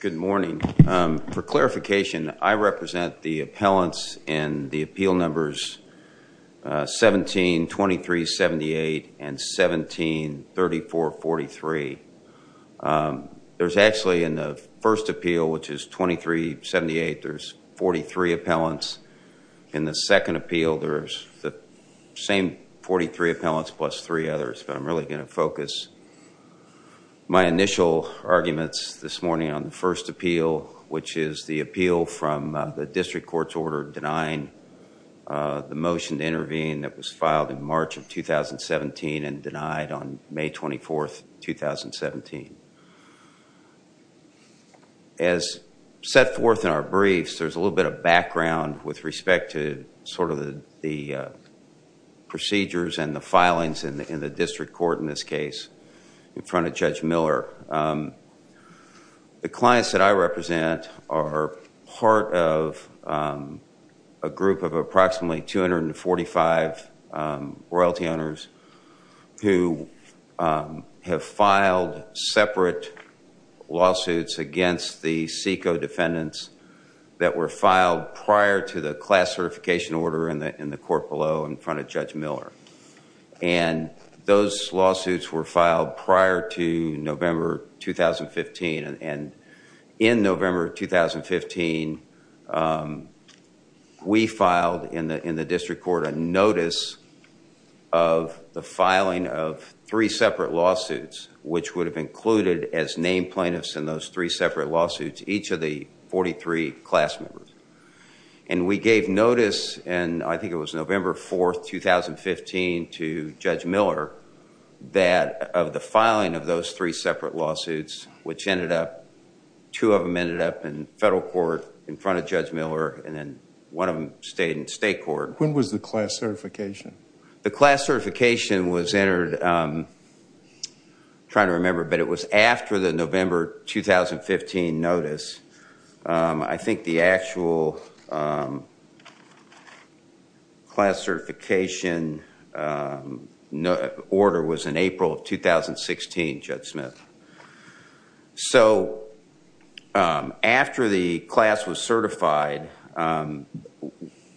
Good morning. For clarification, I represent the appellants in the appeal numbers 17, 23, 78 and 17, 34, 43. There's actually in the first appeal, which is 23, 78, there's 43 appellants. In the second appeal, there's the same 43 appellants plus three others, but I'm really going to focus my initial arguments this morning on the first appeal, which is the appeal from the district court's order denying the motion to intervene that was filed in March of 2017 and denied on May 24th, 2017. As set forth in our briefs, there's a little bit of background with respect to sort of the procedures and the filings in the district court in this case in front of Judge Miller. The clients that I represent are part of a group of approximately 245 royalty owners who have filed separate lawsuits against the SECO defendants that were filed prior to the class certification order in the court below in front of Judge Miller. Those lawsuits were filed prior to November 2015, and in November 2015, we filed in the district court a notice of the filing of three separate lawsuits, which would have included as named plaintiffs in those three separate lawsuits each of the 43 class members. We gave notice, and I think it was November 4th, 2015 to Judge Miller that of the filing of those three separate lawsuits, which ended up, two of them ended up in federal court in front of Judge Miller, and then one of them stayed in state court. When was the class certification? The class certification was entered, I'm trying to remember, but it was after the November 2015 notice. I think the actual class certification order was in April of 2016, Judge Smith. After the class was certified,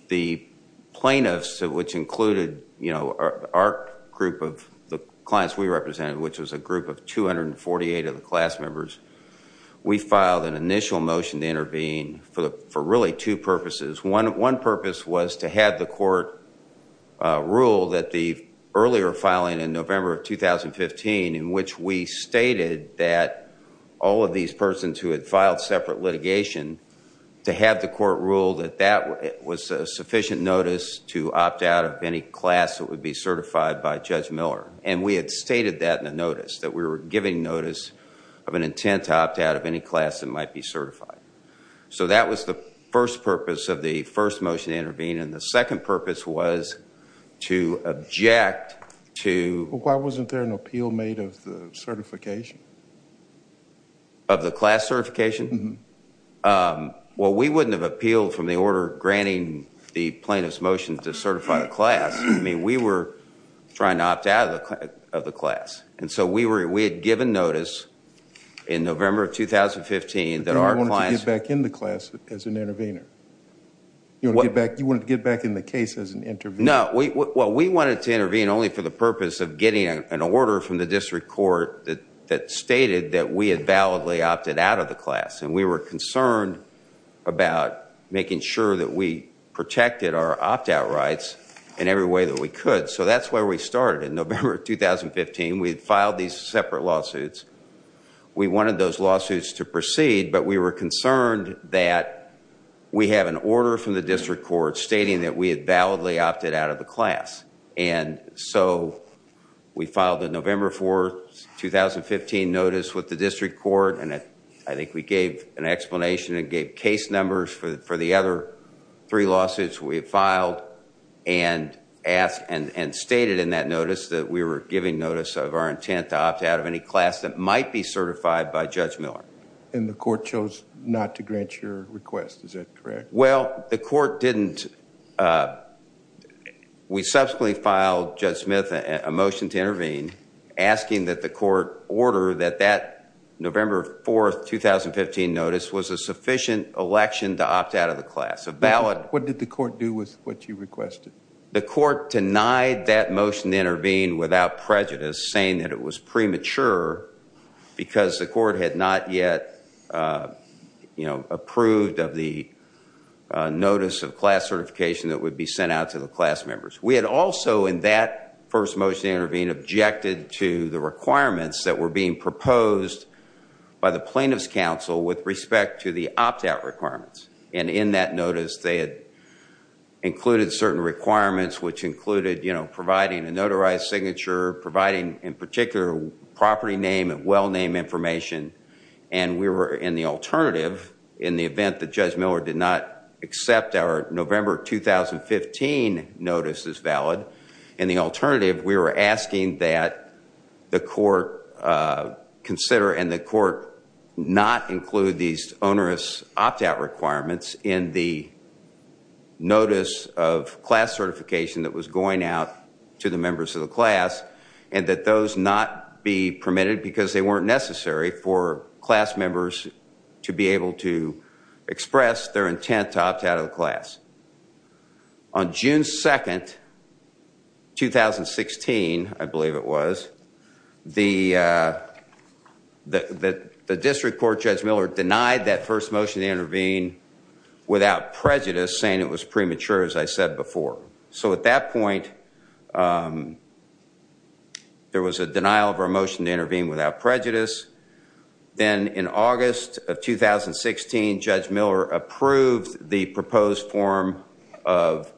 the plaintiffs, which included our group of the clients we represented, which was a group of 248 of the class members, we filed an initial motion to intervene for really two purposes. One purpose was to have the court rule that the earlier filing in November of 2015, in which we stated that all of these persons who had filed separate litigation, to have the court rule that that was a sufficient notice to opt out of any class that would be certified by Judge Miller. We had stated that in the notice, that we were giving notice of an intent to opt out of any class that might be certified. That was the first purpose of the first motion to intervene. The second purpose was to object to... Why wasn't there an appeal made of the certification? Of the class certification? We wouldn't have appealed from the order granting the plaintiff's motion to certify the class. We were trying to opt out of the class. We had given notice in November of 2015 that our clients... You wanted to get back in the class as an intervener? You wanted to get back in the case as an intervener? No, we wanted to intervene only for the purpose of getting an order from the district court that stated that we had validly opted out of the class. We were concerned about making sure that we protected our opt-out rights in every way that we could. That's where we started in November of 2015. We had filed these separate lawsuits. We wanted those lawsuits to proceed, but we were concerned that we have an order from the district court stating that we had validly opted out of the class. We filed a November 4, 2015 notice with the district court. I think we gave an explanation and gave case numbers for the other three lawsuits we had filed. And stated in that notice that we were giving notice of our intent to opt out of any class that might be certified by Judge Miller. And the court chose not to grant your request, is that correct? Well, the court didn't. We subsequently filed Judge Smith a motion to intervene asking that the court order that that November 4, 2015 notice was a sufficient election to opt out of the class. What did the court do with what you requested? The court denied that motion to intervene without prejudice, saying that it was premature because the court had not yet approved of the notice of class certification that would be sent out to the class members. We had also, in that first motion to intervene, objected to the requirements that were being proposed by the plaintiff's counsel with respect to the opt-out requirements. And in that notice, they had included certain requirements, which included providing a notarized signature, providing, in particular, property name and well-name information. And we were, in the alternative, in the event that Judge Miller did not accept our November 2015 notice as valid, in the alternative, we were asking that the court consider and the court not include these onerous opt-out requirements in the notice of class certification that was going out to the members of the class, and that those not be permitted because they weren't necessary for class members to be able to express their intent to opt out of the class. On June 2nd, 2016, I believe it was, the district court, Judge Miller, denied that first motion to intervene without prejudice, saying it was premature, as I said before. So at that point, there was a denial of our motion to intervene without prejudice. Then in August of 2016, Judge Miller approved the proposed form of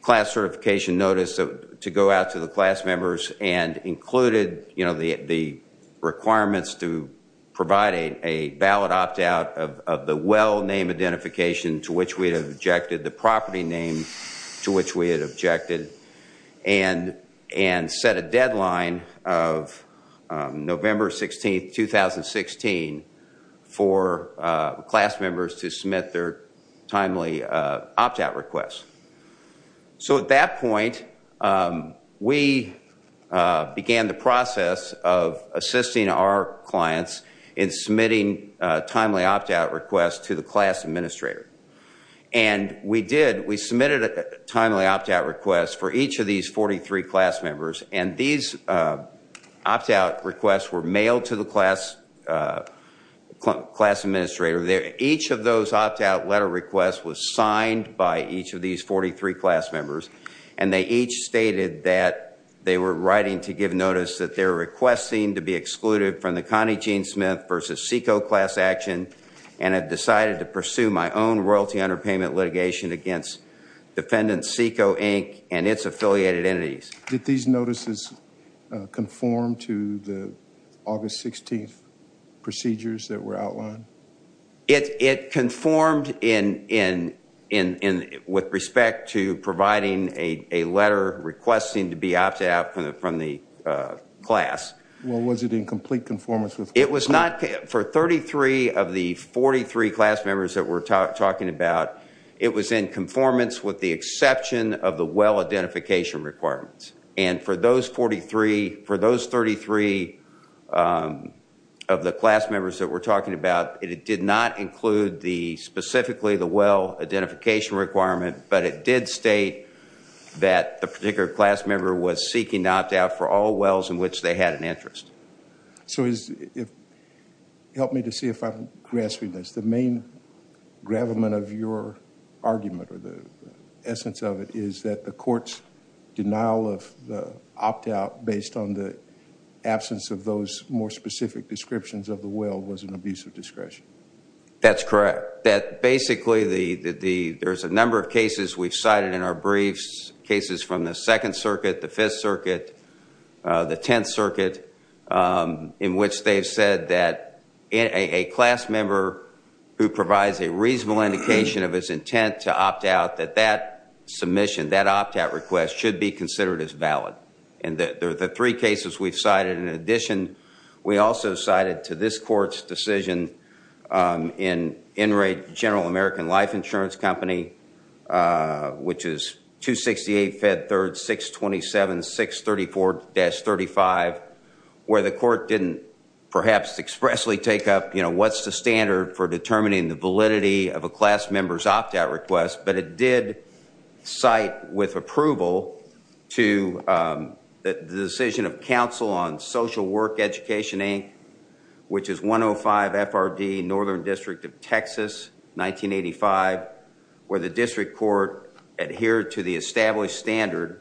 class certification notice to go out to the class members, and included the requirements to provide a valid opt-out of the well-name identification to which we had objected, the property name to which we had objected, and set a deadline of November 16th, 2016, for class members to submit their timely opt-out request. So at that point, we began the process of assisting our clients in submitting timely opt-out requests to the class administrator. And we did, we submitted a timely opt-out request for each of these 43 class members, and these opt-out requests were mailed to the class administrator. Each of those opt-out letter requests was signed by each of these 43 class members, and they each stated that they were writing to give notice that their request seemed to be excluded from the Connie Jean Smith versus Seiko class action, and had decided to pursue my own royalty underpayment litigation against Defendant Seiko Inc. and its affiliated entities. Did these notices conform to the August 16th procedures that were outlined? It conformed with respect to providing a letter requesting to be opted out from the class. Well, was it in complete conformance with the class? It was not, for 33 of the 43 class members that we're talking about, it was in conformance with the exception of the well identification requirements. And for those 43, for those 33 of the class members that we're talking about, it did not include the, specifically the well identification requirement, but it did state that the particular class member was seeking to opt out for all wells in which they had an interest. So help me to see if I'm grasping this. The main gravamen of your argument, or the essence of it, is that the court's denial of the opt-out based on the absence of those more specific descriptions of the well was an abuse of discretion. That's correct. That basically, there's a number of cases we've cited in our briefs, cases from the Second Circuit, the Fifth Circuit, the Tenth Circuit, in which they've said that a class member who provides a reasonable indication of his intent to opt out, that that submission, that opt-out request, should be considered as valid. And the three cases we've cited, in addition, we also cited to this court's decision, in Enright General American Life Insurance Company, which is 268 Fed 3rd 627 634-35, where the court didn't perhaps expressly take up, you know, what's the standard for determining the validity of a class member's opt-out request, but it did cite, with approval, the decision of Council on Social Work Education, Inc., which is 105 FRD, Northern District of Texas, 1985, where the district court adhered to the established standard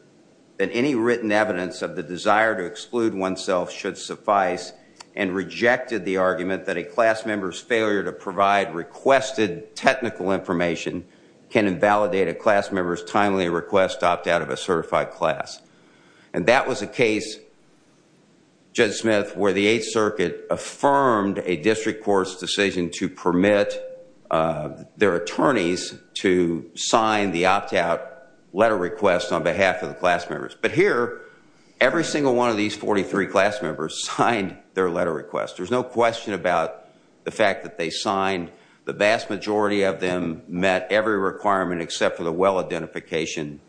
that any written evidence of the desire to exclude oneself should suffice, and rejected the argument that a class member's failure to provide requested technical information can invalidate a class member's timely request to opt out of a certified class. And that was a case, Judge Smith, where the Eighth Circuit affirmed a district court's decision to permit their attorneys to sign the opt-out letter request on behalf of the class members. But here, every single one of these 43 class members signed their letter request. There's no question about the fact that they signed. The vast majority of them met every requirement except for the well-identification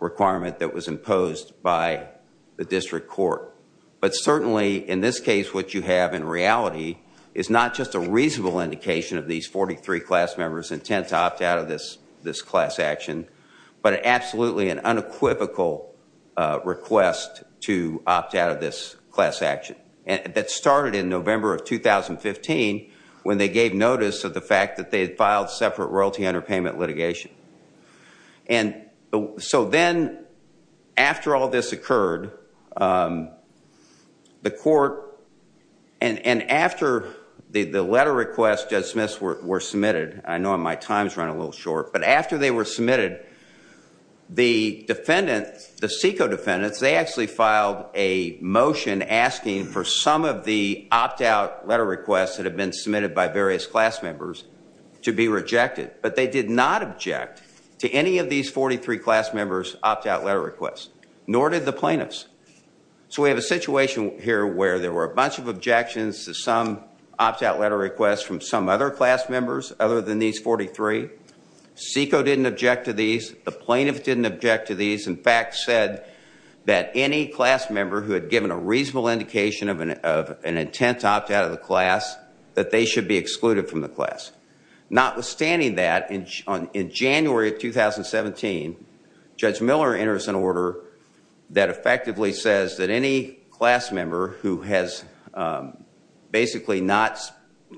requirement that was imposed by the district court. But certainly, in this case, what you have in reality is not just a reasonable indication of these 43 class members' intent to opt out of this class action, but absolutely an unequivocal request to opt out of this class action. And that started in November of 2015, when they gave notice of the fact that they had filed separate royalty underpayment litigation. And so then, after all this occurred, the court, and after the letter requests, Judge Smith, were submitted, I know my time's running a little short, but after they were submitted, the defendant, the SECO defendants, they actually filed a motion asking for some of the opt-out letter requests that had been submitted by various class members to be rejected. But they did not object to any of these 43 class members' opt-out letter requests, nor did the plaintiffs. So we have a situation here where there were a bunch of objections to some opt-out letter requests from some other class members other than these 43. SECO didn't object to these. The plaintiffs didn't object to these. In fact, said that any class member who had given a reasonable indication of an intent to opt out of the class, that they should be excluded from the class. Notwithstanding that, in January of 2017, Judge Miller enters an order that effectively says that any class member who has basically not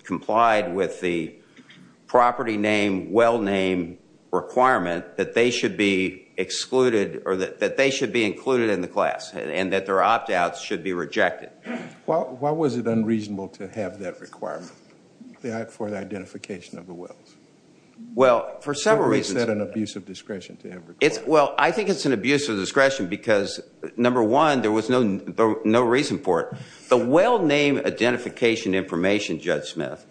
complied with the property name, well name requirement, that they should be excluded, or that they should be included in the class, and that their opt-outs should be rejected. Why was it unreasonable to have that requirement for the identification of the wills? Well, for several reasons. Is that an abuse of discretion to have a requirement? Well, I think it's an abuse of discretion because, number one, there was no reason for it. The well name identification information, Judge Smith,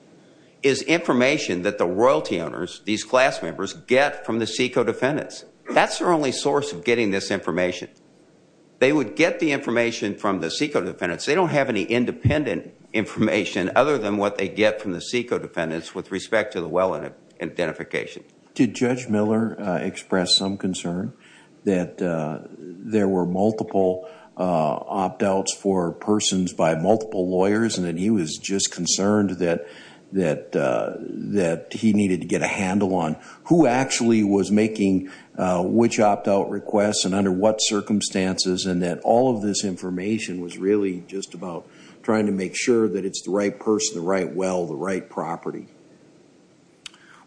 is information that the royalty owners, these class members, get from the SECO defendants. That's their only source of getting this information. They would get the information from the SECO defendants. They don't have any independent information other than what they get from the SECO defendants with respect to the well identification. Did Judge Miller express some concern that there were multiple opt-outs for persons by multiple lawyers, and that he was just concerned that he needed to get a handle on who actually was making which opt-out requests, and under what circumstances, and that all of this information was really just about trying to make sure that it's the right person, the right well, the right property?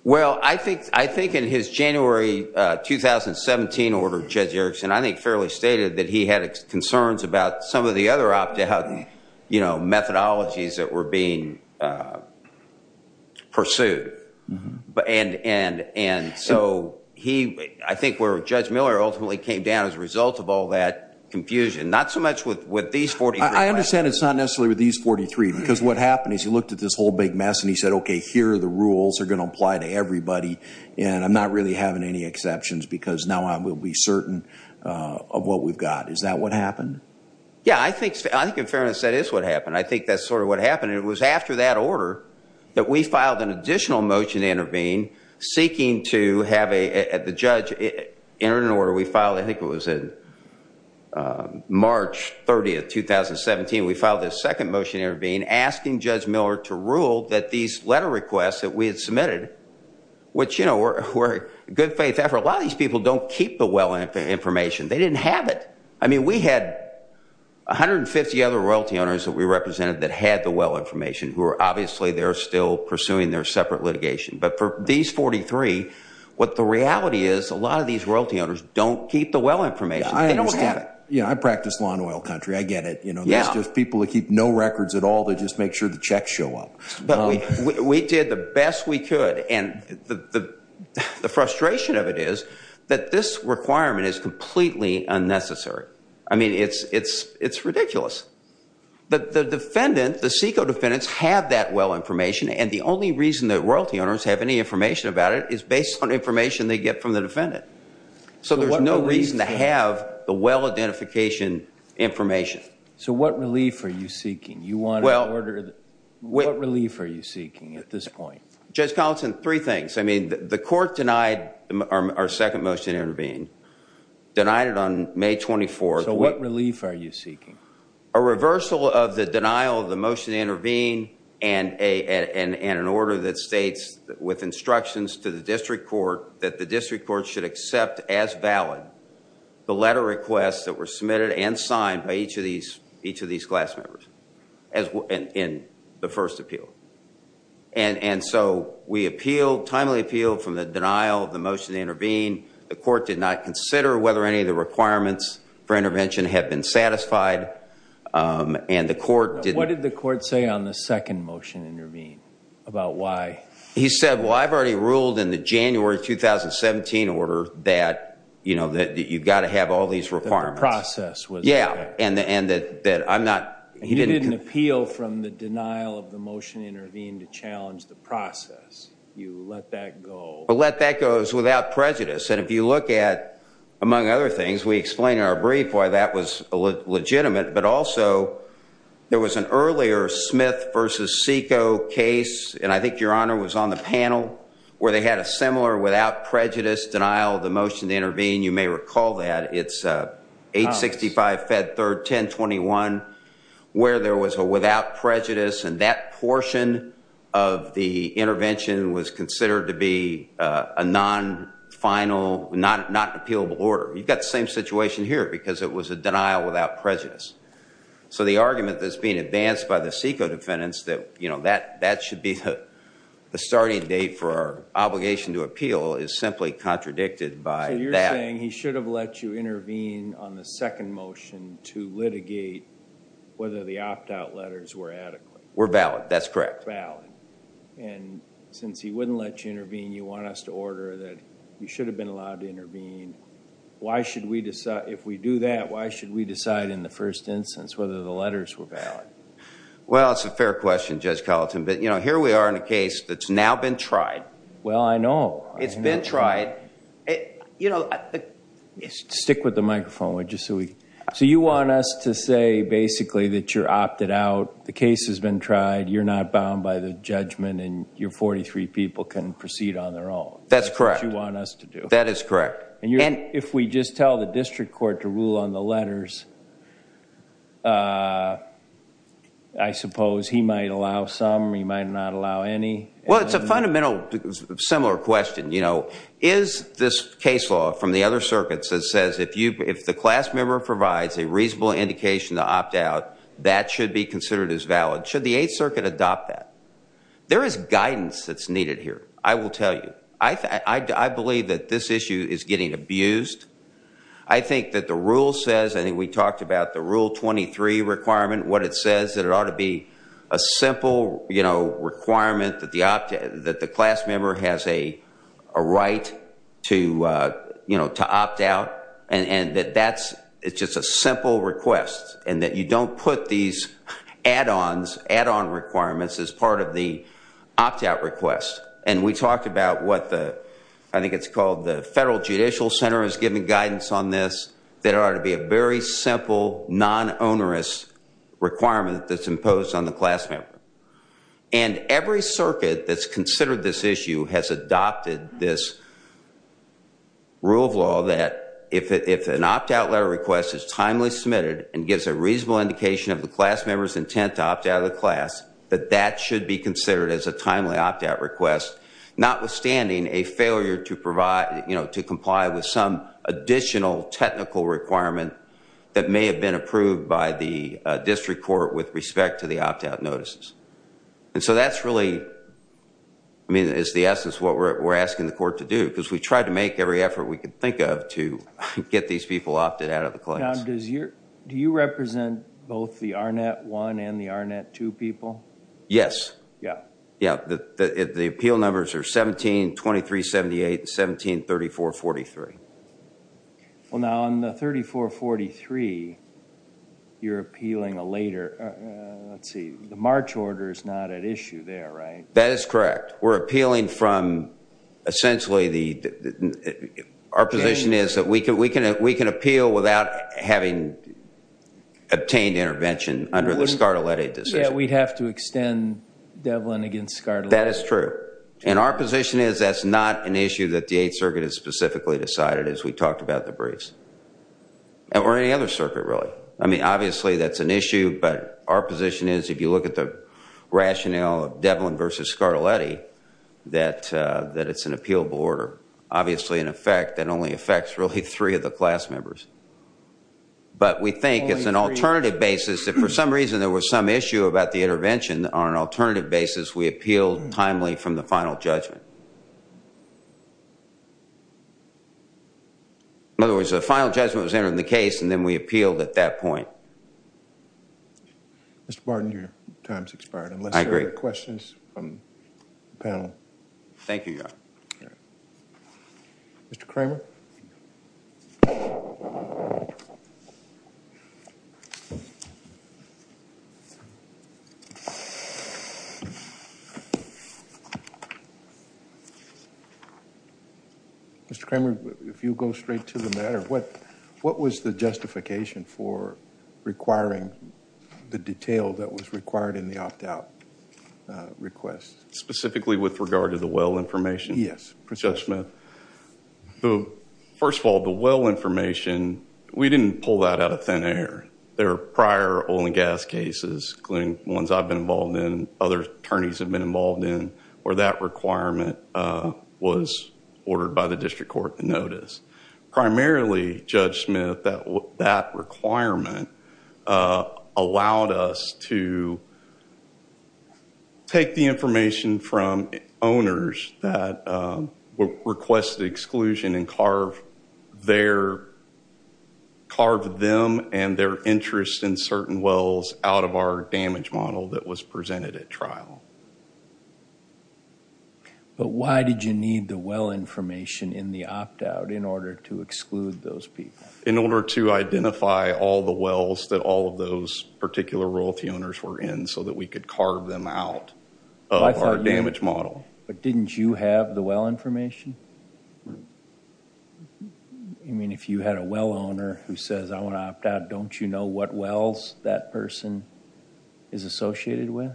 Well, I think in his January 2017 order, Judge Erickson, I think fairly stated that he had concerns about some of the other opt-out methodologies that were being pursued. And so I think where Judge Miller ultimately came down as a result of all that confusion, not so much with these 43 requests. I understand it's not necessarily with these 43, because what happened is he looked at this whole big mess, and he said, okay, here are the rules that are going to apply to everybody, and I'm not really having any exceptions because now I will be certain of what we've got. Is that what happened? Yeah, I think in fairness that is what happened. I think that's sort of what happened. It was after that order that we filed an additional motion to intervene seeking to have the judge enter an order. We filed, I think it was in March 30, 2017. We filed this second motion to intervene asking Judge Miller to rule that these letter requests that we had submitted, which, you know, were good faith effort. A lot of these people don't keep the well information. They didn't have it. I mean, we had 150 other royalty owners that we represented that had the well information who are obviously they're still pursuing their separate litigation. But for these 43, what the reality is a lot of these royalty owners don't keep the well information. They don't have it. Yeah, I practice law in oil country. I get it. There's just people that keep no records at all. They just make sure the checks show up. But we did the best we could, and the frustration of it is that this requirement is completely unnecessary. I mean, it's ridiculous. The defendant, the SECO defendants, have that well information, and the only reason that royalty owners have any information about it is based on information they get from the defendant. So there's no reason to have the well identification information. So what relief are you seeking? You want an order? What relief are you seeking at this point? Judge Collinson, three things. I mean, the court denied our second motion to intervene. Denied it on May 24th. So what relief are you seeking? A reversal of the denial of the motion to intervene and an order that states with instructions to the district court that the district court should accept as valid the letter requests that were submitted and signed by each of these class members in the first appeal. And so we appealed, timely appealed, from the denial of the motion to intervene. The court did not consider whether any of the requirements for intervention had been satisfied, and the court didn't. And what did the court say on the second motion to intervene about why? He said, well, I've already ruled in the January 2017 order that you've got to have all these requirements. That the process was correct. Yeah, and that I'm not. He didn't appeal from the denial of the motion to intervene to challenge the process. You let that go. Let that go. It was without prejudice. And if you look at, among other things, we explain in our brief why that was legitimate, but also there was an earlier Smith v. Seiko case, and I think your Honor was on the panel, where they had a similar without prejudice denial of the motion to intervene. You may recall that. It's 865 Fed 3rd 1021, where there was a without prejudice, and that portion of the intervention was considered to be a non-final, not an appealable order. You've got the same situation here, because it was a denial without prejudice. So the argument that's being advanced by the Seiko defendants that that should be the starting date for our obligation to appeal is simply contradicted by that. So you're saying he should have let you intervene on the second motion to litigate whether the opt-out letters were adequate. Were valid. That's correct. Valid. And since he wouldn't let you intervene, you want us to order that you should have been allowed to intervene. If we do that, why should we decide in the first instance whether the letters were valid? Well, it's a fair question, Judge Colleton. But here we are in a case that's now been tried. Well, I know. It's been tried. Stick with the microphone. So you want us to say, basically, that you're opted out. The case has been tried. You're not bound by the judgment, and your 43 people can proceed on their own. That's correct. Which you want us to do. That is correct. And if we just tell the district court to rule on the letters, I suppose he might allow some. He might not allow any. Well, it's a fundamental similar question. Is this case law from the other circuits that says if the class member provides a reasonable indication to opt out, that should be considered as valid? Should the Eighth Circuit adopt that? There is guidance that's needed here, I will tell you. I believe that this issue is getting abused. I think that the rule says, I think we talked about the Rule 23 requirement, what it says, that it ought to be a simple requirement that the class member has a right to opt out, and that that's just a simple request, and that you don't put these add-ons, add-on requirements, as part of the opt-out request. And we talked about what the, I think it's called the Federal Judicial Center has given guidance on this, that it ought to be a very simple, non-onerous requirement that's imposed on the class member. And every circuit that's considered this issue has adopted this rule of law that if an opt-out letter request is timely submitted and gives a reasonable indication of the class member's intent to opt out of the class, that that should be considered as a timely opt-out request, notwithstanding a failure to provide, to comply with some additional technical requirement that may have been approved by the district court with respect to the opt-out notices. And so that's really, I mean, it's the essence of what we're asking the court to do, because we try to make every effort we can think of to get these people opted out of the class. Do you represent both the ARNET 1 and the ARNET 2 people? Yes. Yeah. Yeah. The appeal numbers are 17-2378 and 17-3443. Well, now, on the 3443, you're appealing a later, let's see, the March order is not at issue there, right? That is correct. We're appealing from essentially the, our position is that we can appeal without having obtained intervention under the Scartoletti decision. Yeah, we'd have to extend Devlin against Scartoletti. That is true. And our position is that's not an issue that the Eighth Circuit has specifically decided, as we talked about in the briefs. Or any other circuit, really. I mean, obviously, that's an issue, but our position is, if you look at the rationale of Devlin versus Scartoletti, that it's an appealable order. Obviously, in effect, that only affects really three of the class members. But we think it's an alternative basis. If, for some reason, there was some issue about the intervention, on an alternative basis, we appealed timely from the final judgment. In other words, the final judgment was entered in the case, and then we appealed at that point. Mr. Barton, your time has expired. I agree. Unless there are other questions from the panel. Thank you, Your Honor. Mr. Kramer? Thank you. Mr. Kramer, if you go straight to the matter, what was the justification for requiring the detail that was required in the opt-out request? Specifically with regard to the well information? Yes, precisely. Thank you, Judge Smith. First of all, the well information, we didn't pull that out of thin air. There are prior oil and gas cases, including ones I've been involved in, other attorneys have been involved in, where that requirement was ordered by the district court to notice. Primarily, Judge Smith, that requirement allowed us to take the information from owners that requested exclusion and carve them and their interest in certain wells out of our damage model that was presented at trial. But why did you need the well information in the opt-out in order to exclude those people? In order to identify all the wells that all of those particular royalty owners were in so that we could carve them out of our damage model. But didn't you have the well information? I mean, if you had a well owner who says, I want to opt out, don't you know what wells that person is associated with?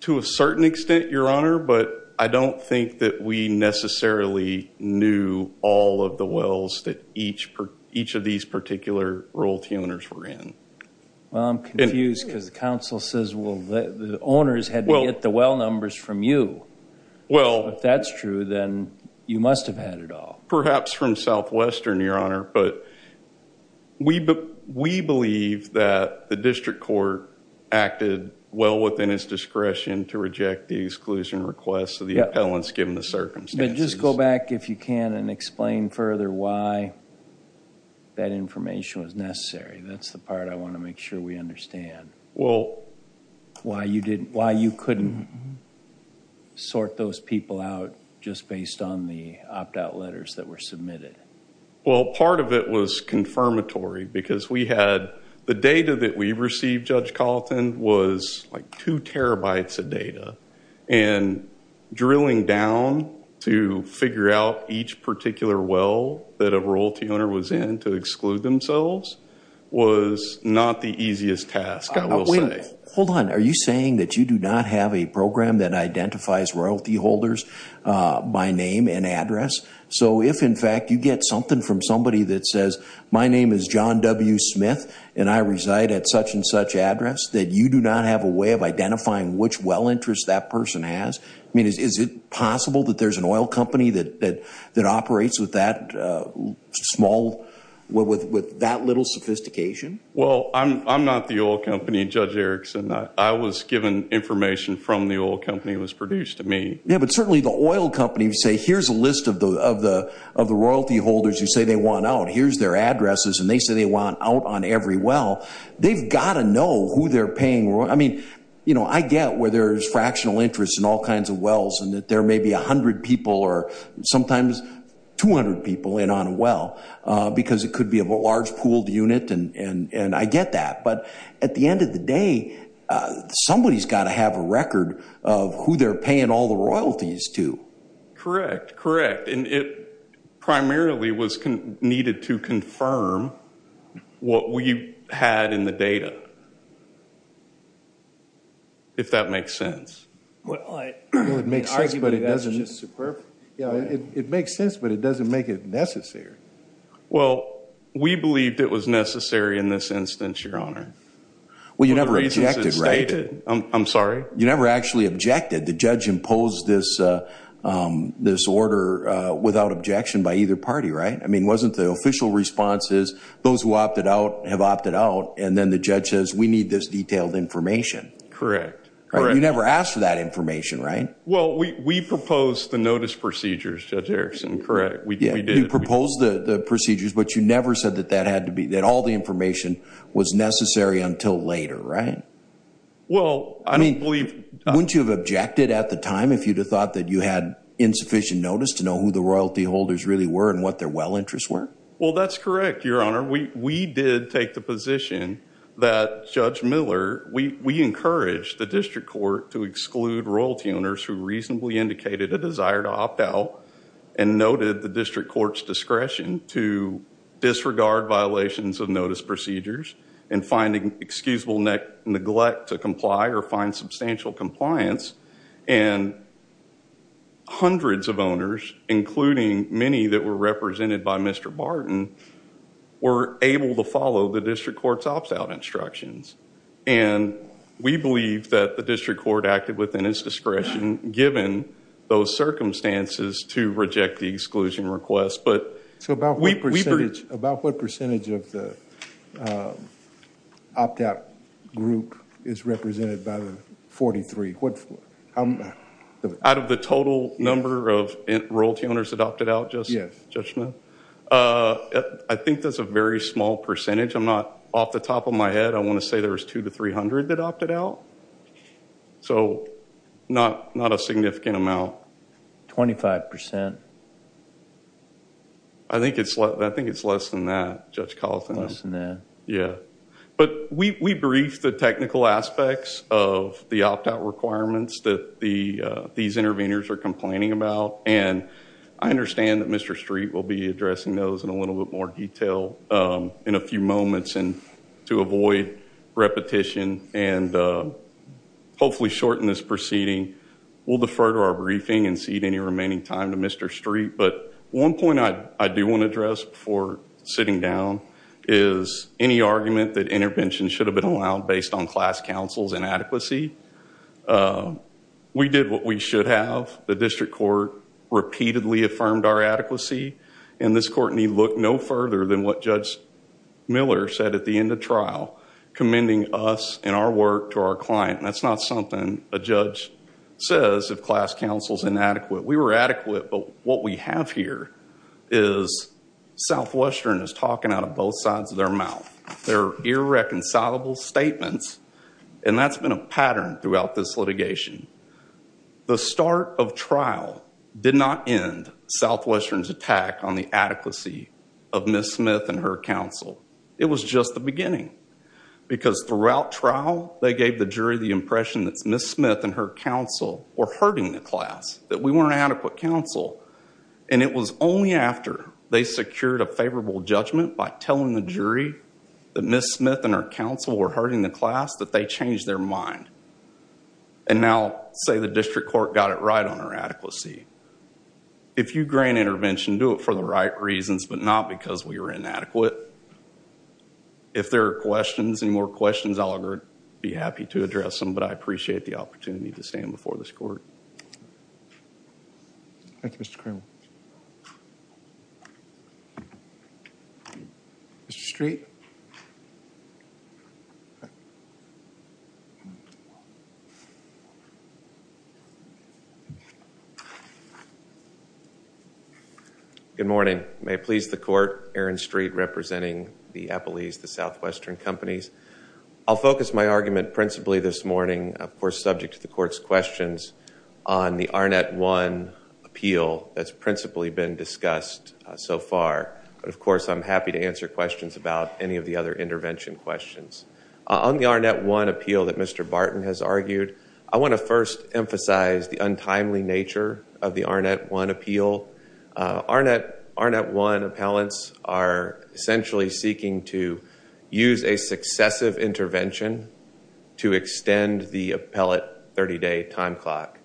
To a certain extent, Your Honor, but I don't think that we necessarily knew all of the wells that each of these particular royalty owners were in. Well, I'm confused because the counsel says, well, the owners had to get the well numbers from you. If that's true, then you must have had it all. Perhaps from Southwestern, Your Honor, but we believe that the district court acted well within its discretion to reject the exclusion request of the appellants given the circumstances. Just go back, if you can, and explain further why that information was necessary. That's the part I want to make sure we understand. Why you couldn't sort those people out just based on the opt-out letters that were submitted? Well, part of it was confirmatory because we had the data that we received, Judge Colleton, was like two terabytes of data. Drilling down to figure out each particular well that a royalty owner was in to exclude themselves was not the easiest task, I will say. Hold on. Are you saying that you do not have a program that identifies royalty holders by name and address? So if, in fact, you get something from somebody that says, my name is John W. Smith, and I reside at such and such address, that you do not have a way of identifying which well interest that person has? I mean, is it possible that there's an oil company that operates with that little sophistication? Well, I'm not the oil company, Judge Erickson. I was given information from the oil company that was produced to me. Yeah, but certainly the oil company would say, here's a list of the royalty holders you say they want out. Here's their addresses, and they say they want out on every well. They've got to know who they're paying. I mean, I get where there's fractional interest in all kinds of wells and that there may be 100 people or sometimes 200 people in on a well because it could be a large pooled unit, and I get that. But at the end of the day, somebody's got to have a record of who they're paying all the royalties to. Correct, correct. And it primarily was needed to confirm what we had in the data, if that makes sense. Well, it makes sense, but it doesn't make it necessary. Well, we believed it was necessary in this instance, Your Honor. Well, you never objected, right? I'm sorry? You never actually objected. The judge imposed this order without objection by either party, right? I mean, wasn't the official response is those who opted out have opted out, and then the judge says we need this detailed information? Correct, correct. You never asked for that information, right? Well, we proposed the notice procedures, Judge Erickson, correct. We did. You proposed the procedures, but you never said that all the information was necessary until later, right? Well, I don't believe – Wouldn't you have objected at the time if you'd have thought that you had insufficient notice to know who the royalty holders really were and what their well interests were? Well, that's correct, Your Honor. We did take the position that Judge Miller – we encouraged the district court to exclude royalty owners who reasonably indicated a desire to opt out and noted the district court's discretion to disregard violations of notice procedures and finding excusable neglect to comply or find substantial compliance, and hundreds of owners, including many that were represented by Mr. Barton, were able to follow the district court's opt-out instructions, and we believe that the district court acted within its discretion given those circumstances to reject the exclusion request. About what percentage of the opt-out group is represented by the 43? Out of the total number of royalty owners that opted out, Judge Miller? Yes. I think that's a very small percentage. I'm not off the top of my head. I want to say there was 200 to 300 that opted out, so not a significant amount. 25%? I think it's less than that, Judge Collison. Less than that. Yeah, but we briefed the technical aspects of the opt-out requirements that these interveners are complaining about, and I understand that Mr. Street will be addressing those in a little bit more detail in a few moments, and to avoid repetition and hopefully shorten this proceeding, we'll defer to our briefing and cede any remaining time to Mr. Street, but one point I do want to address before sitting down is any argument that intervention should have been allowed based on class counsel's inadequacy. We did what we should have. The district court repeatedly affirmed our adequacy, and this court need look no further than what Judge Miller said at the end of trial, commending us and our work to our client. That's not something a judge says if class counsel's inadequate. We were adequate, but what we have here is Southwestern is talking out of both sides of their mouth. They're irreconcilable statements, and that's been a pattern throughout this litigation. The start of trial did not end Southwestern's attack on the adequacy of Ms. Smith and her counsel. It was just the beginning, because throughout trial, they gave the jury the impression that Ms. Smith and her counsel were hurting the class, that we weren't adequate counsel, and it was only after they secured a favorable judgment by telling the jury that Ms. Smith and her counsel were hurting the class that they changed their mind, and now say the district court got it right on our adequacy. If you grant intervention, do it for the right reasons, but not because we were inadequate. If there are questions, any more questions, I'll be happy to address them, but I appreciate the opportunity to stand before this court. Thank you, Mr. Cramer. Mr. Street? Good morning. May it please the court, Aaron Street, representing the Appalese, the Southwestern companies. I'll focus my argument principally this morning, of course, subject to the court's questions, on the Arnett One appeal that's principally been discussed so far, but of course, I'm happy to answer questions about any of the other intervention questions. On the Arnett One appeal that Mr. Barton has argued, I want to first emphasize the untimely nature of the Arnett One appeal. Arnett One appellants are essentially seeking to use a successive intervention to extend the appellate 30-day time clock,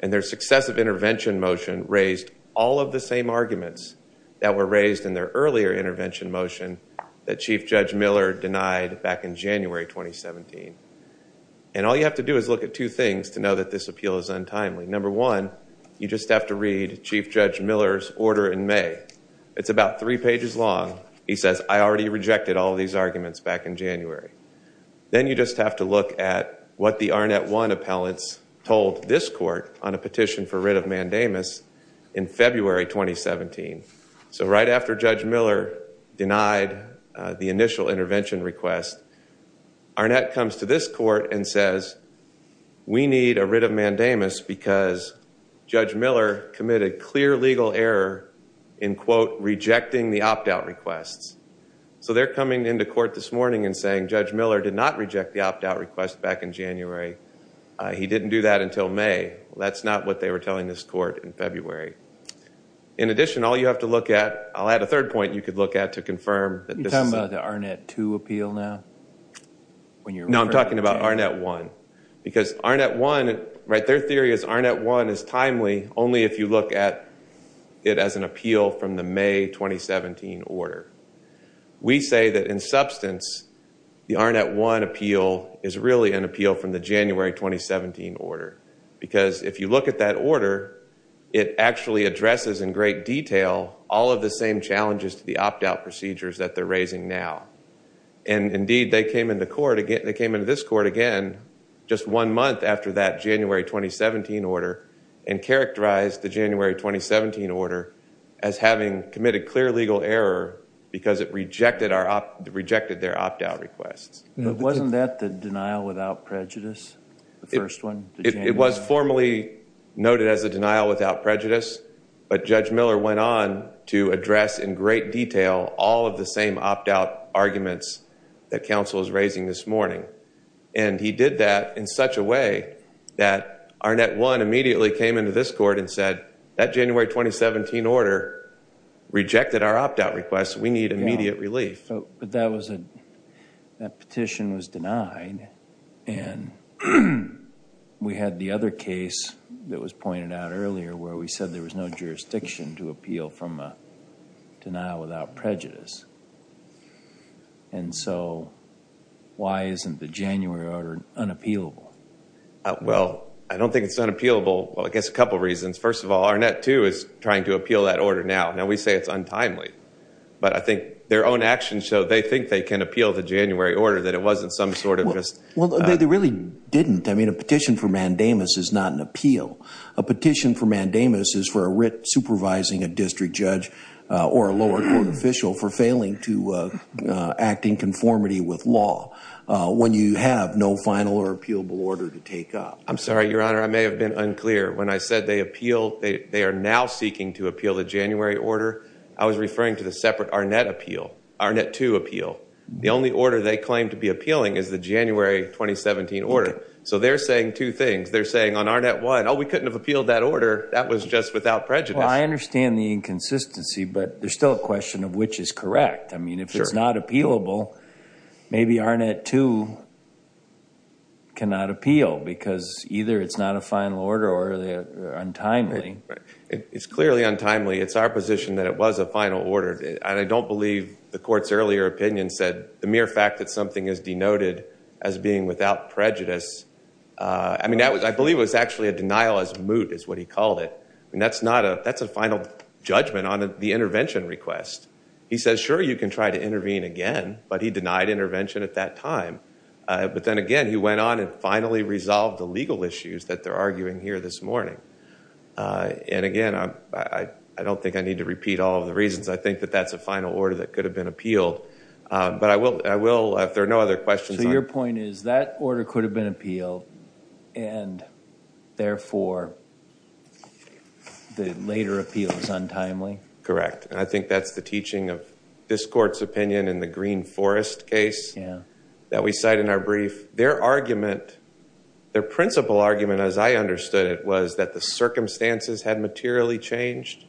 and their successive intervention motion raised all of the same arguments that were raised in their earlier intervention motion that Chief Judge Miller denied back in January 2017. And all you have to do is look at two things to know that this appeal is untimely. Number one, you just have to read Chief Judge Miller's order in May. It's about three pages long. He says, I already rejected all of these arguments back in January. Then you just have to look at what the Arnett One appellants told this court on a petition for writ of mandamus in February 2017. So right after Judge Miller denied the initial intervention request, Arnett comes to this court and says, we need a writ of mandamus because Judge Miller committed clear legal error in, quote, rejecting the opt-out requests. So they're coming into court this morning and saying, he didn't do that until May. That's not what they were telling this court in February. In addition, all you have to look at, I'll add a third point you could look at to confirm that this is... Are you talking about the Arnett Two appeal now? No, I'm talking about Arnett One. Because Arnett One, right, their theory is Arnett One is timely only if you look at it as an appeal from the May 2017 order. We say that in substance, the Arnett One appeal is really an appeal from the January 2017 order. Because if you look at that order, it actually addresses in great detail all of the same challenges to the opt-out procedures that they're raising now. And indeed, they came into this court again just one month after that January 2017 order and characterized the January 2017 order as having committed clear legal error because it rejected their opt-out requests. But wasn't that the denial without prejudice, the first one? It was formally noted as a denial without prejudice, but Judge Miller went on to address in great detail all of the same opt-out arguments that counsel is raising this morning. And he did that in such a way that Arnett One immediately came into this court and said, that January 2017 order rejected our opt-out requests. We need immediate relief. But that petition was denied. And we had the other case that was pointed out earlier where we said there was no jurisdiction to appeal from a denial without prejudice. And so why isn't the January order unappealable? Well, I don't think it's unappealable. Well, I guess a couple reasons. First of all, Arnett Two is trying to appeal that order now. Now, we say it's untimely. But I think their own actions show they think they can appeal the January order, that it wasn't some sort of just... Well, they really didn't. I mean, a petition for mandamus is not an appeal. A petition for mandamus is for a writ supervising a district judge or a lower court official for failing to act in conformity with law when you have no final or appealable order to take up. I'm sorry, Your Honor. I may have been unclear. When I said they are now seeking to appeal the January order, I was referring to the separate Arnett Two appeal. The only order they claim to be appealing is the January 2017 order. So they're saying two things. They're saying on Arnett One, oh, we couldn't have appealed that order. That was just without prejudice. Well, I understand the inconsistency, but there's still a question of which is correct. I mean, if it's not appealable, maybe Arnett Two cannot appeal because either it's not a final order or they're untimely. It's clearly untimely. It's our position that it was a final order. And I don't believe the court's earlier opinion said the mere fact that something is denoted as being without prejudice. I mean, I believe it was actually a denial as moot, is what he called it. And that's a final judgment on the intervention request. He says, sure, you can try to intervene again, but he denied intervention at that time. But then again, he went on and finally resolved the legal issues that they're arguing here this morning. And again, I don't think I need to repeat all of the reasons. I think that that's a final order that could have been appealed. But I will, if there are no other questions. So your point is that order could have been appealed and therefore the later appeal is untimely? Correct. And I think that's the teaching of this court's opinion in the Green Forest case that we cite in our brief. Their argument, their principal argument, as I understood it, was that the circumstances had materially changed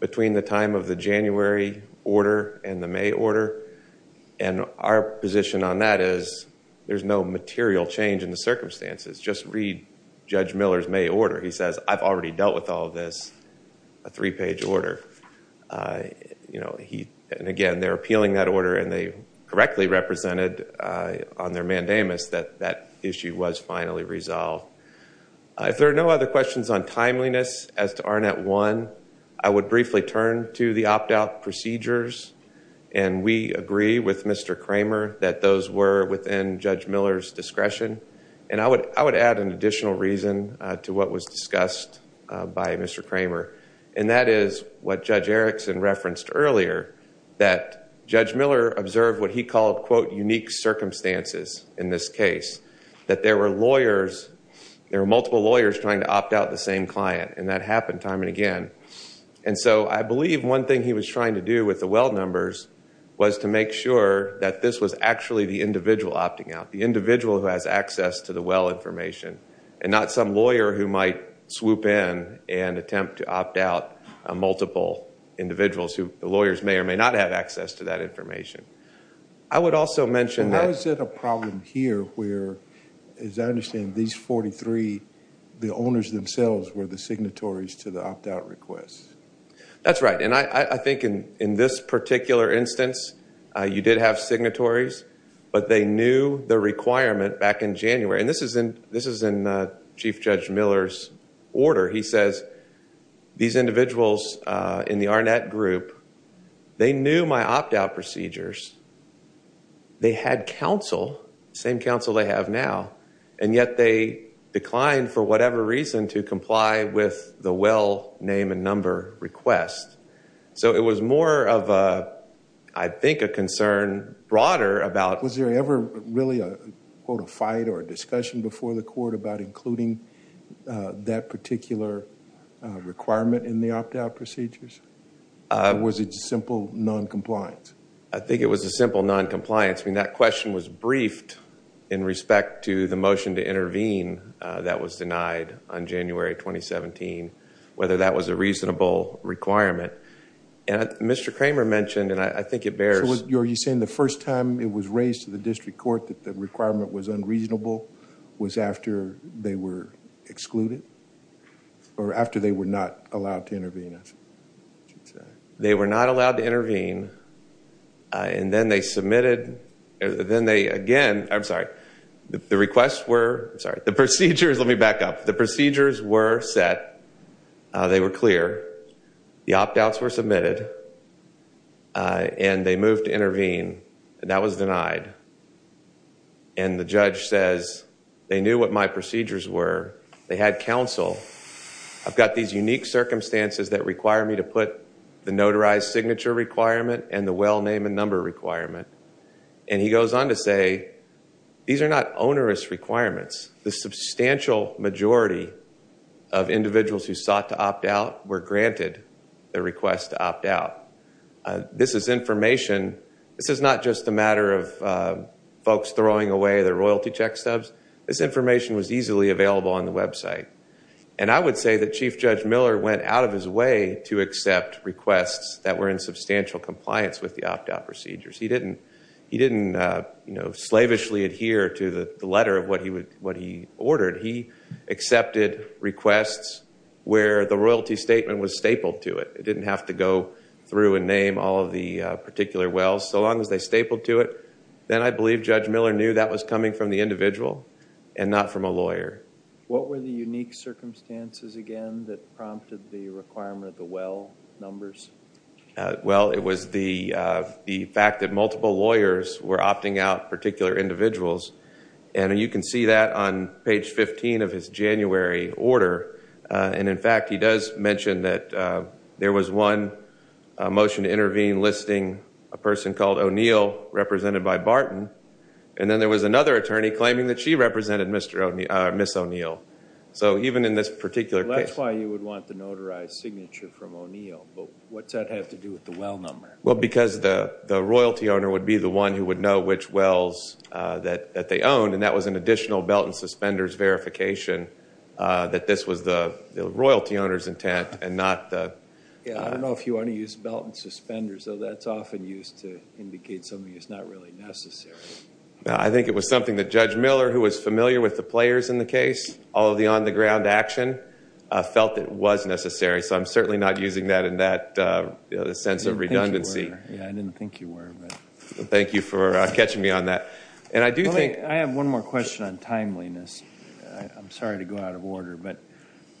between the time of the January order and the May order. And our position on that is there's no material change in the circumstances. Just read Judge Miller's May order. He says, I've already dealt with all of this, a three-page order. And again, they're appealing that order and they correctly represented on their mandamus that that issue was finally resolved. If there are no other questions on timeliness as to ARNET 1, I would briefly turn to the opt-out procedures. And we agree with Mr. Kramer that those were within Judge Miller's discretion. And I would add an additional reason to what was discussed by Mr. Kramer. And that is what Judge Erickson referenced earlier, that Judge Miller observed what he called, quote, unique circumstances in this case. That there were lawyers, there were multiple lawyers trying to opt out the same client. And that happened time and again. And so I believe one thing he was trying to do with the well numbers was to make sure that this was actually the individual opting out, the individual who has access to the well information and not some lawyer who might swoop in and attempt to opt out multiple individuals who the lawyers may or may not have access to that information. I would also mention that... Why is it a problem here where, as I understand, these 43, the owners themselves were the signatories to the opt-out request? That's right. And I think in this particular instance, you did have signatories, but they knew the requirement back in January. And this is in Chief Judge Miller's order. He says, these individuals in the Arnett group, they knew my opt-out procedures. They had counsel, same counsel they have now, and yet they declined for whatever reason to comply with the well name and number request. So it was more of, I think, a concern broader about... Was there ever really a, quote, a fight or a discussion before the court about including that particular requirement in the opt-out procedures? Or was it just simple noncompliance? I think it was a simple noncompliance. I mean, that question was briefed in respect to the motion to intervene that was denied on January 2017, whether that was a reasonable requirement. And Mr. Kramer mentioned, and I think it bears... So are you saying the first time it was raised to the district court that the requirement was unreasonable was after they were excluded? Or after they were not allowed to intervene? They were not allowed to intervene. And then they submitted... Then they again... I'm sorry. The requests were... I'm sorry. The procedures... Let me back up. The procedures were set. They were clear. The opt-outs were submitted. And they moved to intervene. And that was denied. And the judge says, they knew what my procedures were. They had counsel. I've got these unique circumstances that require me to put the notarized signature requirement and the well name and number requirement. And he goes on to say, these are not onerous requirements. The substantial majority of individuals who sought to opt out were granted the request to opt out. This is information... This is not just a matter of folks throwing away their royalty check stubs. This information was easily available on the website. And I would say that Chief Judge Miller went out of his way to accept requests that were in substantial compliance with the opt-out procedures. He didn't slavishly adhere to the letter of what he ordered. He accepted requests where the royalty statement was stapled to it. It didn't have to go through and name all of the particular wells, so long as they stapled to it. Then I believe Judge Miller knew that was coming from the individual and not from a lawyer. What were the unique circumstances, again, that prompted the requirement of the well numbers? Well, it was the fact that multiple lawyers were opting out particular individuals. And you can see that on page 15 of his January order. And, in fact, he does mention that there was one motion to intervene listing a person called O'Neill represented by Barton. And then there was another attorney claiming that she represented Ms. O'Neill. So even in this particular case... That's why you would want the notarized signature from O'Neill. But what's that have to do with the well number? Well, because the royalty owner would be the one who would know which wells that they owned, and that was an additional belt and suspenders verification that this was the royalty owner's intent and not the... Yeah, I don't know if you want to use belt and suspenders, though that's often used to indicate something that's not really necessary. I think it was something that Judge Miller, who was familiar with the players in the case, all of the on-the-ground action, felt it was necessary. So I'm certainly not using that in that sense of redundancy. I didn't think you were. Thank you for catching me on that. And I do think... I have one more question on timeliness. I'm sorry to go out of order, but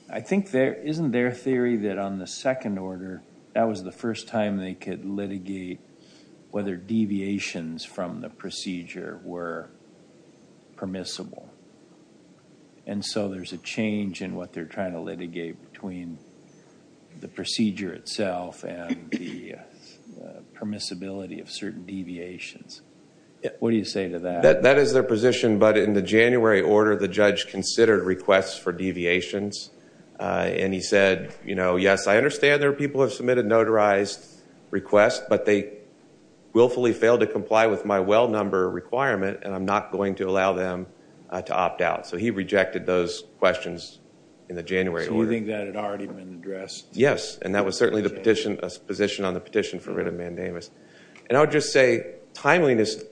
I think isn't there a theory that on the second order, that was the first time they could litigate whether deviations from the procedure were permissible? And so there's a change in what they're trying to litigate between the procedure itself and the permissibility of certain deviations. What do you say to that? That is their position, but in the January order, the judge considered requests for deviations, and he said, you know, yes, I understand there are people who have submitted notarized requests, but they willfully failed to comply with my well number requirement, and I'm not going to allow them to opt out. So he rejected those questions in the January order. So you think that had already been addressed? Yes, and that was certainly the position on the petition for writ of mandamus. And I would just say, timeliness...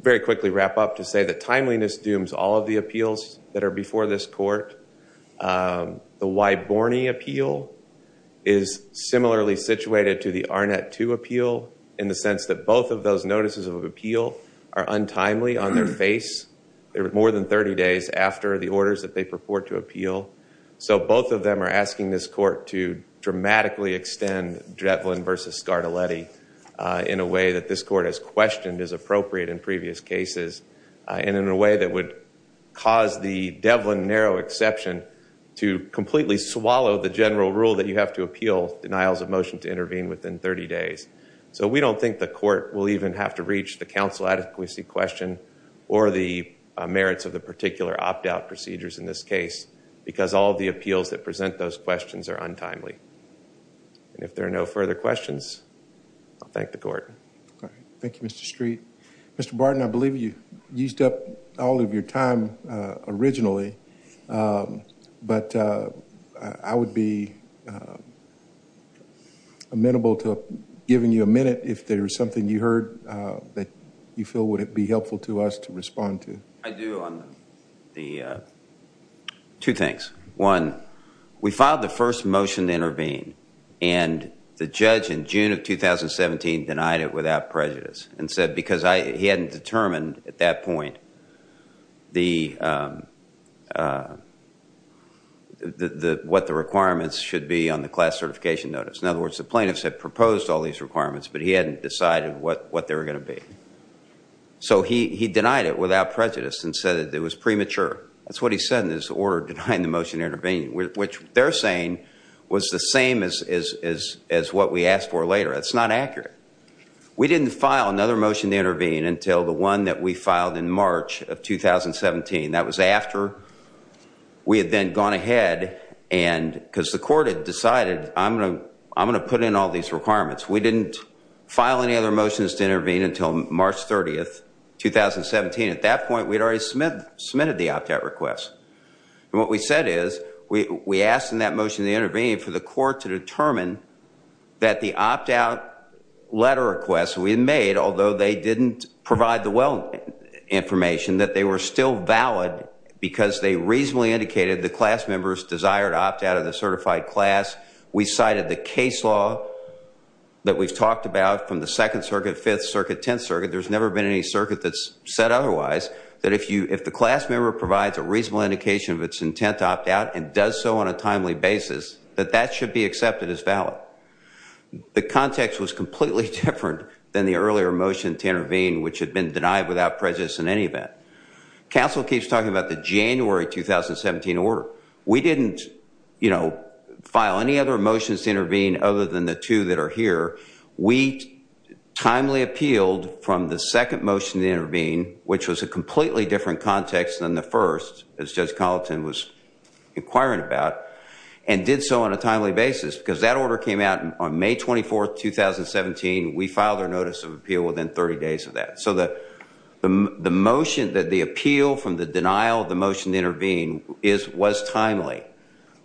Very quickly wrap up to say that timeliness dooms all of the appeals that are before this court. The Wyborne appeal is similarly situated to the Arnett II appeal in the sense that both of those notices of appeal are untimely on their face more than 30 days after the orders that they purport to appeal. So both of them are asking this court to dramatically extend Drevlin v. Scardelletti in a way that this court has questioned is appropriate in previous cases, and in a way that would cause the Devlin narrow exception to completely swallow the general rule that you have to appeal denials of motion to intervene within 30 days. So we don't think the court will even have to reach the counsel adequacy question or the merits of the particular opt-out procedures in this case because all of the appeals that present those questions are untimely. And if there are no further questions, I'll thank the court. Thank you, Mr. Street. Mr. Barton, I believe you used up all of your time originally, but I would be amenable to giving you a minute if there is something you heard that you feel would be helpful to us to respond to. I do on the two things. One, we filed the first motion to intervene, and the judge in June of 2017 denied it without prejudice and said because he hadn't determined at that point what the requirements should be on the class certification notice. In other words, the plaintiffs had proposed all these requirements, but he hadn't decided what they were going to be. So he denied it without prejudice and said that it was premature. Which they're saying was the same as what we asked for later. It's not accurate. We didn't file another motion to intervene until the one that we filed in March of 2017. That was after we had then gone ahead because the court had decided I'm going to put in all these requirements. We didn't file any other motions to intervene until March 30, 2017. At that point, we had already submitted the opt-out request. What we said is we asked in that motion to intervene for the court to determine that the opt-out letter request we made, although they didn't provide the well information, that they were still valid because they reasonably indicated the class member's desire to opt out of the certified class. We cited the case law that we've talked about from the Second Circuit, Fifth Circuit, Tenth Circuit. There's never been any circuit that's said otherwise. That if the class member provides a reasonable indication of its intent to opt out and does so on a timely basis, that that should be accepted as valid. The context was completely different than the earlier motion to intervene, which had been denied without prejudice in any event. Council keeps talking about the January 2017 order. We didn't file any other motions to intervene other than the two that are here. We timely appealed from the second motion to intervene, which was a completely different context than the first, as Judge Colleton was inquiring about, and did so on a timely basis because that order came out on May 24, 2017. We filed our notice of appeal within 30 days of that. The motion, the appeal from the denial of the motion to intervene was timely,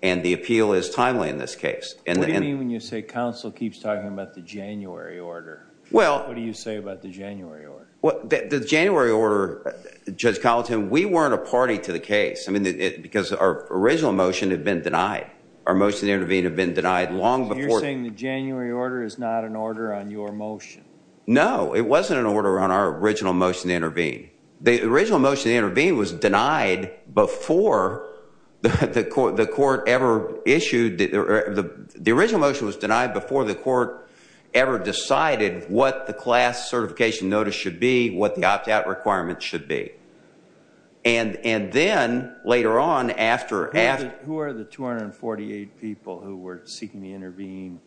and the appeal is timely in this case. What do you mean when you say Council keeps talking about the January order? What do you say about the January order? The January order, Judge Colleton, we weren't a party to the case because our original motion had been denied. Our motion to intervene had been denied long before. You're saying the January order is not an order on your motion? No, it wasn't an order on our original motion to intervene. The original motion to intervene was denied before the court ever issued. The original motion was denied before the court ever decided what the class certification notice should be, what the opt-out requirement should be. And then, later on, after- Who are the 248 people who were seeking to intervene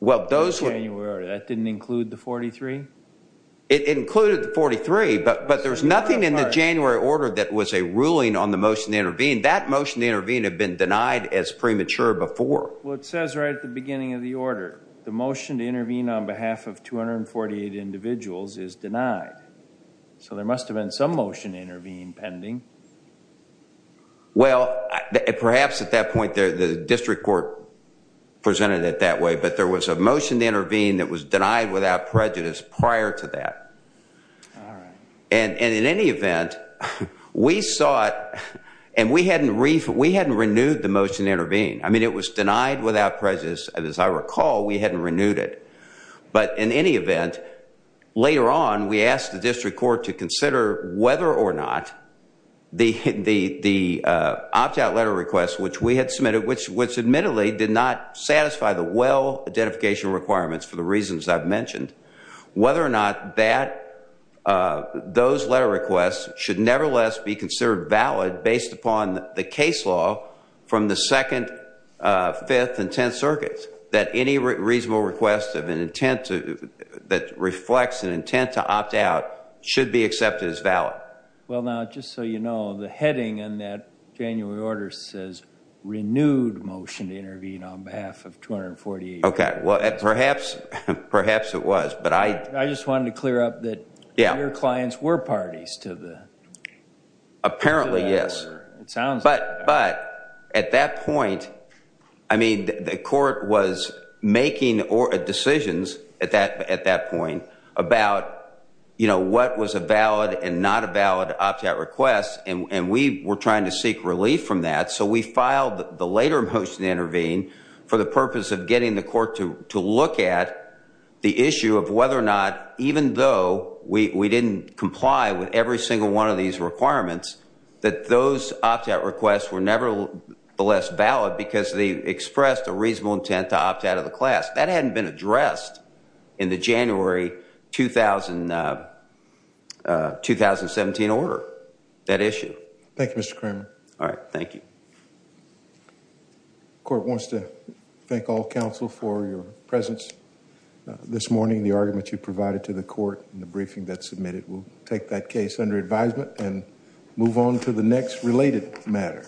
in the January order? That didn't include the 43? It included the 43, but there's nothing in the January order that was a ruling on the motion to intervene. That motion to intervene had been denied as premature before. Well, it says right at the beginning of the order, the motion to intervene on behalf of 248 individuals is denied. So there must have been some motion to intervene pending. Well, perhaps at that point the district court presented it that way, but there was a motion to intervene that was denied without prejudice prior to that. And in any event, we saw it, and we hadn't renewed the motion to intervene. I mean, it was denied without prejudice, and as I recall, we hadn't renewed it. But in any event, later on, we asked the district court to consider whether or not the opt-out letter request which we had submitted, which admittedly did not satisfy the well-identification requirements for the reasons I've mentioned, whether or not those letter requests should nevertheless be considered valid based upon the case law from the Second, Fifth, and Tenth Circuits, that any reasonable request that reflects an intent to opt-out should be accepted as valid. Well, now, just so you know, the heading in that January order says renewed motion to intervene on behalf of 248 individuals. Okay. Well, perhaps it was, but I— I just wanted to clear up that your clients were parties to the— Apparently, yes. But at that point, I mean, the court was making decisions at that point about, you know, what was a valid and not a valid opt-out request, and we were trying to seek relief from that. So we filed the later motion to intervene for the purpose of getting the court to look at the issue of whether or not, even though we didn't comply with every single one of these requirements, that those opt-out requests were nevertheless valid because they expressed a reasonable intent to opt-out of the class. That hadn't been addressed in the January 2017 order, that issue. Thank you, Mr. Cramer. All right. Thank you. The court wants to thank all counsel for your presence this morning. The argument you provided to the court in the briefing that's submitted will take that case under advisement and move on to the next related matter.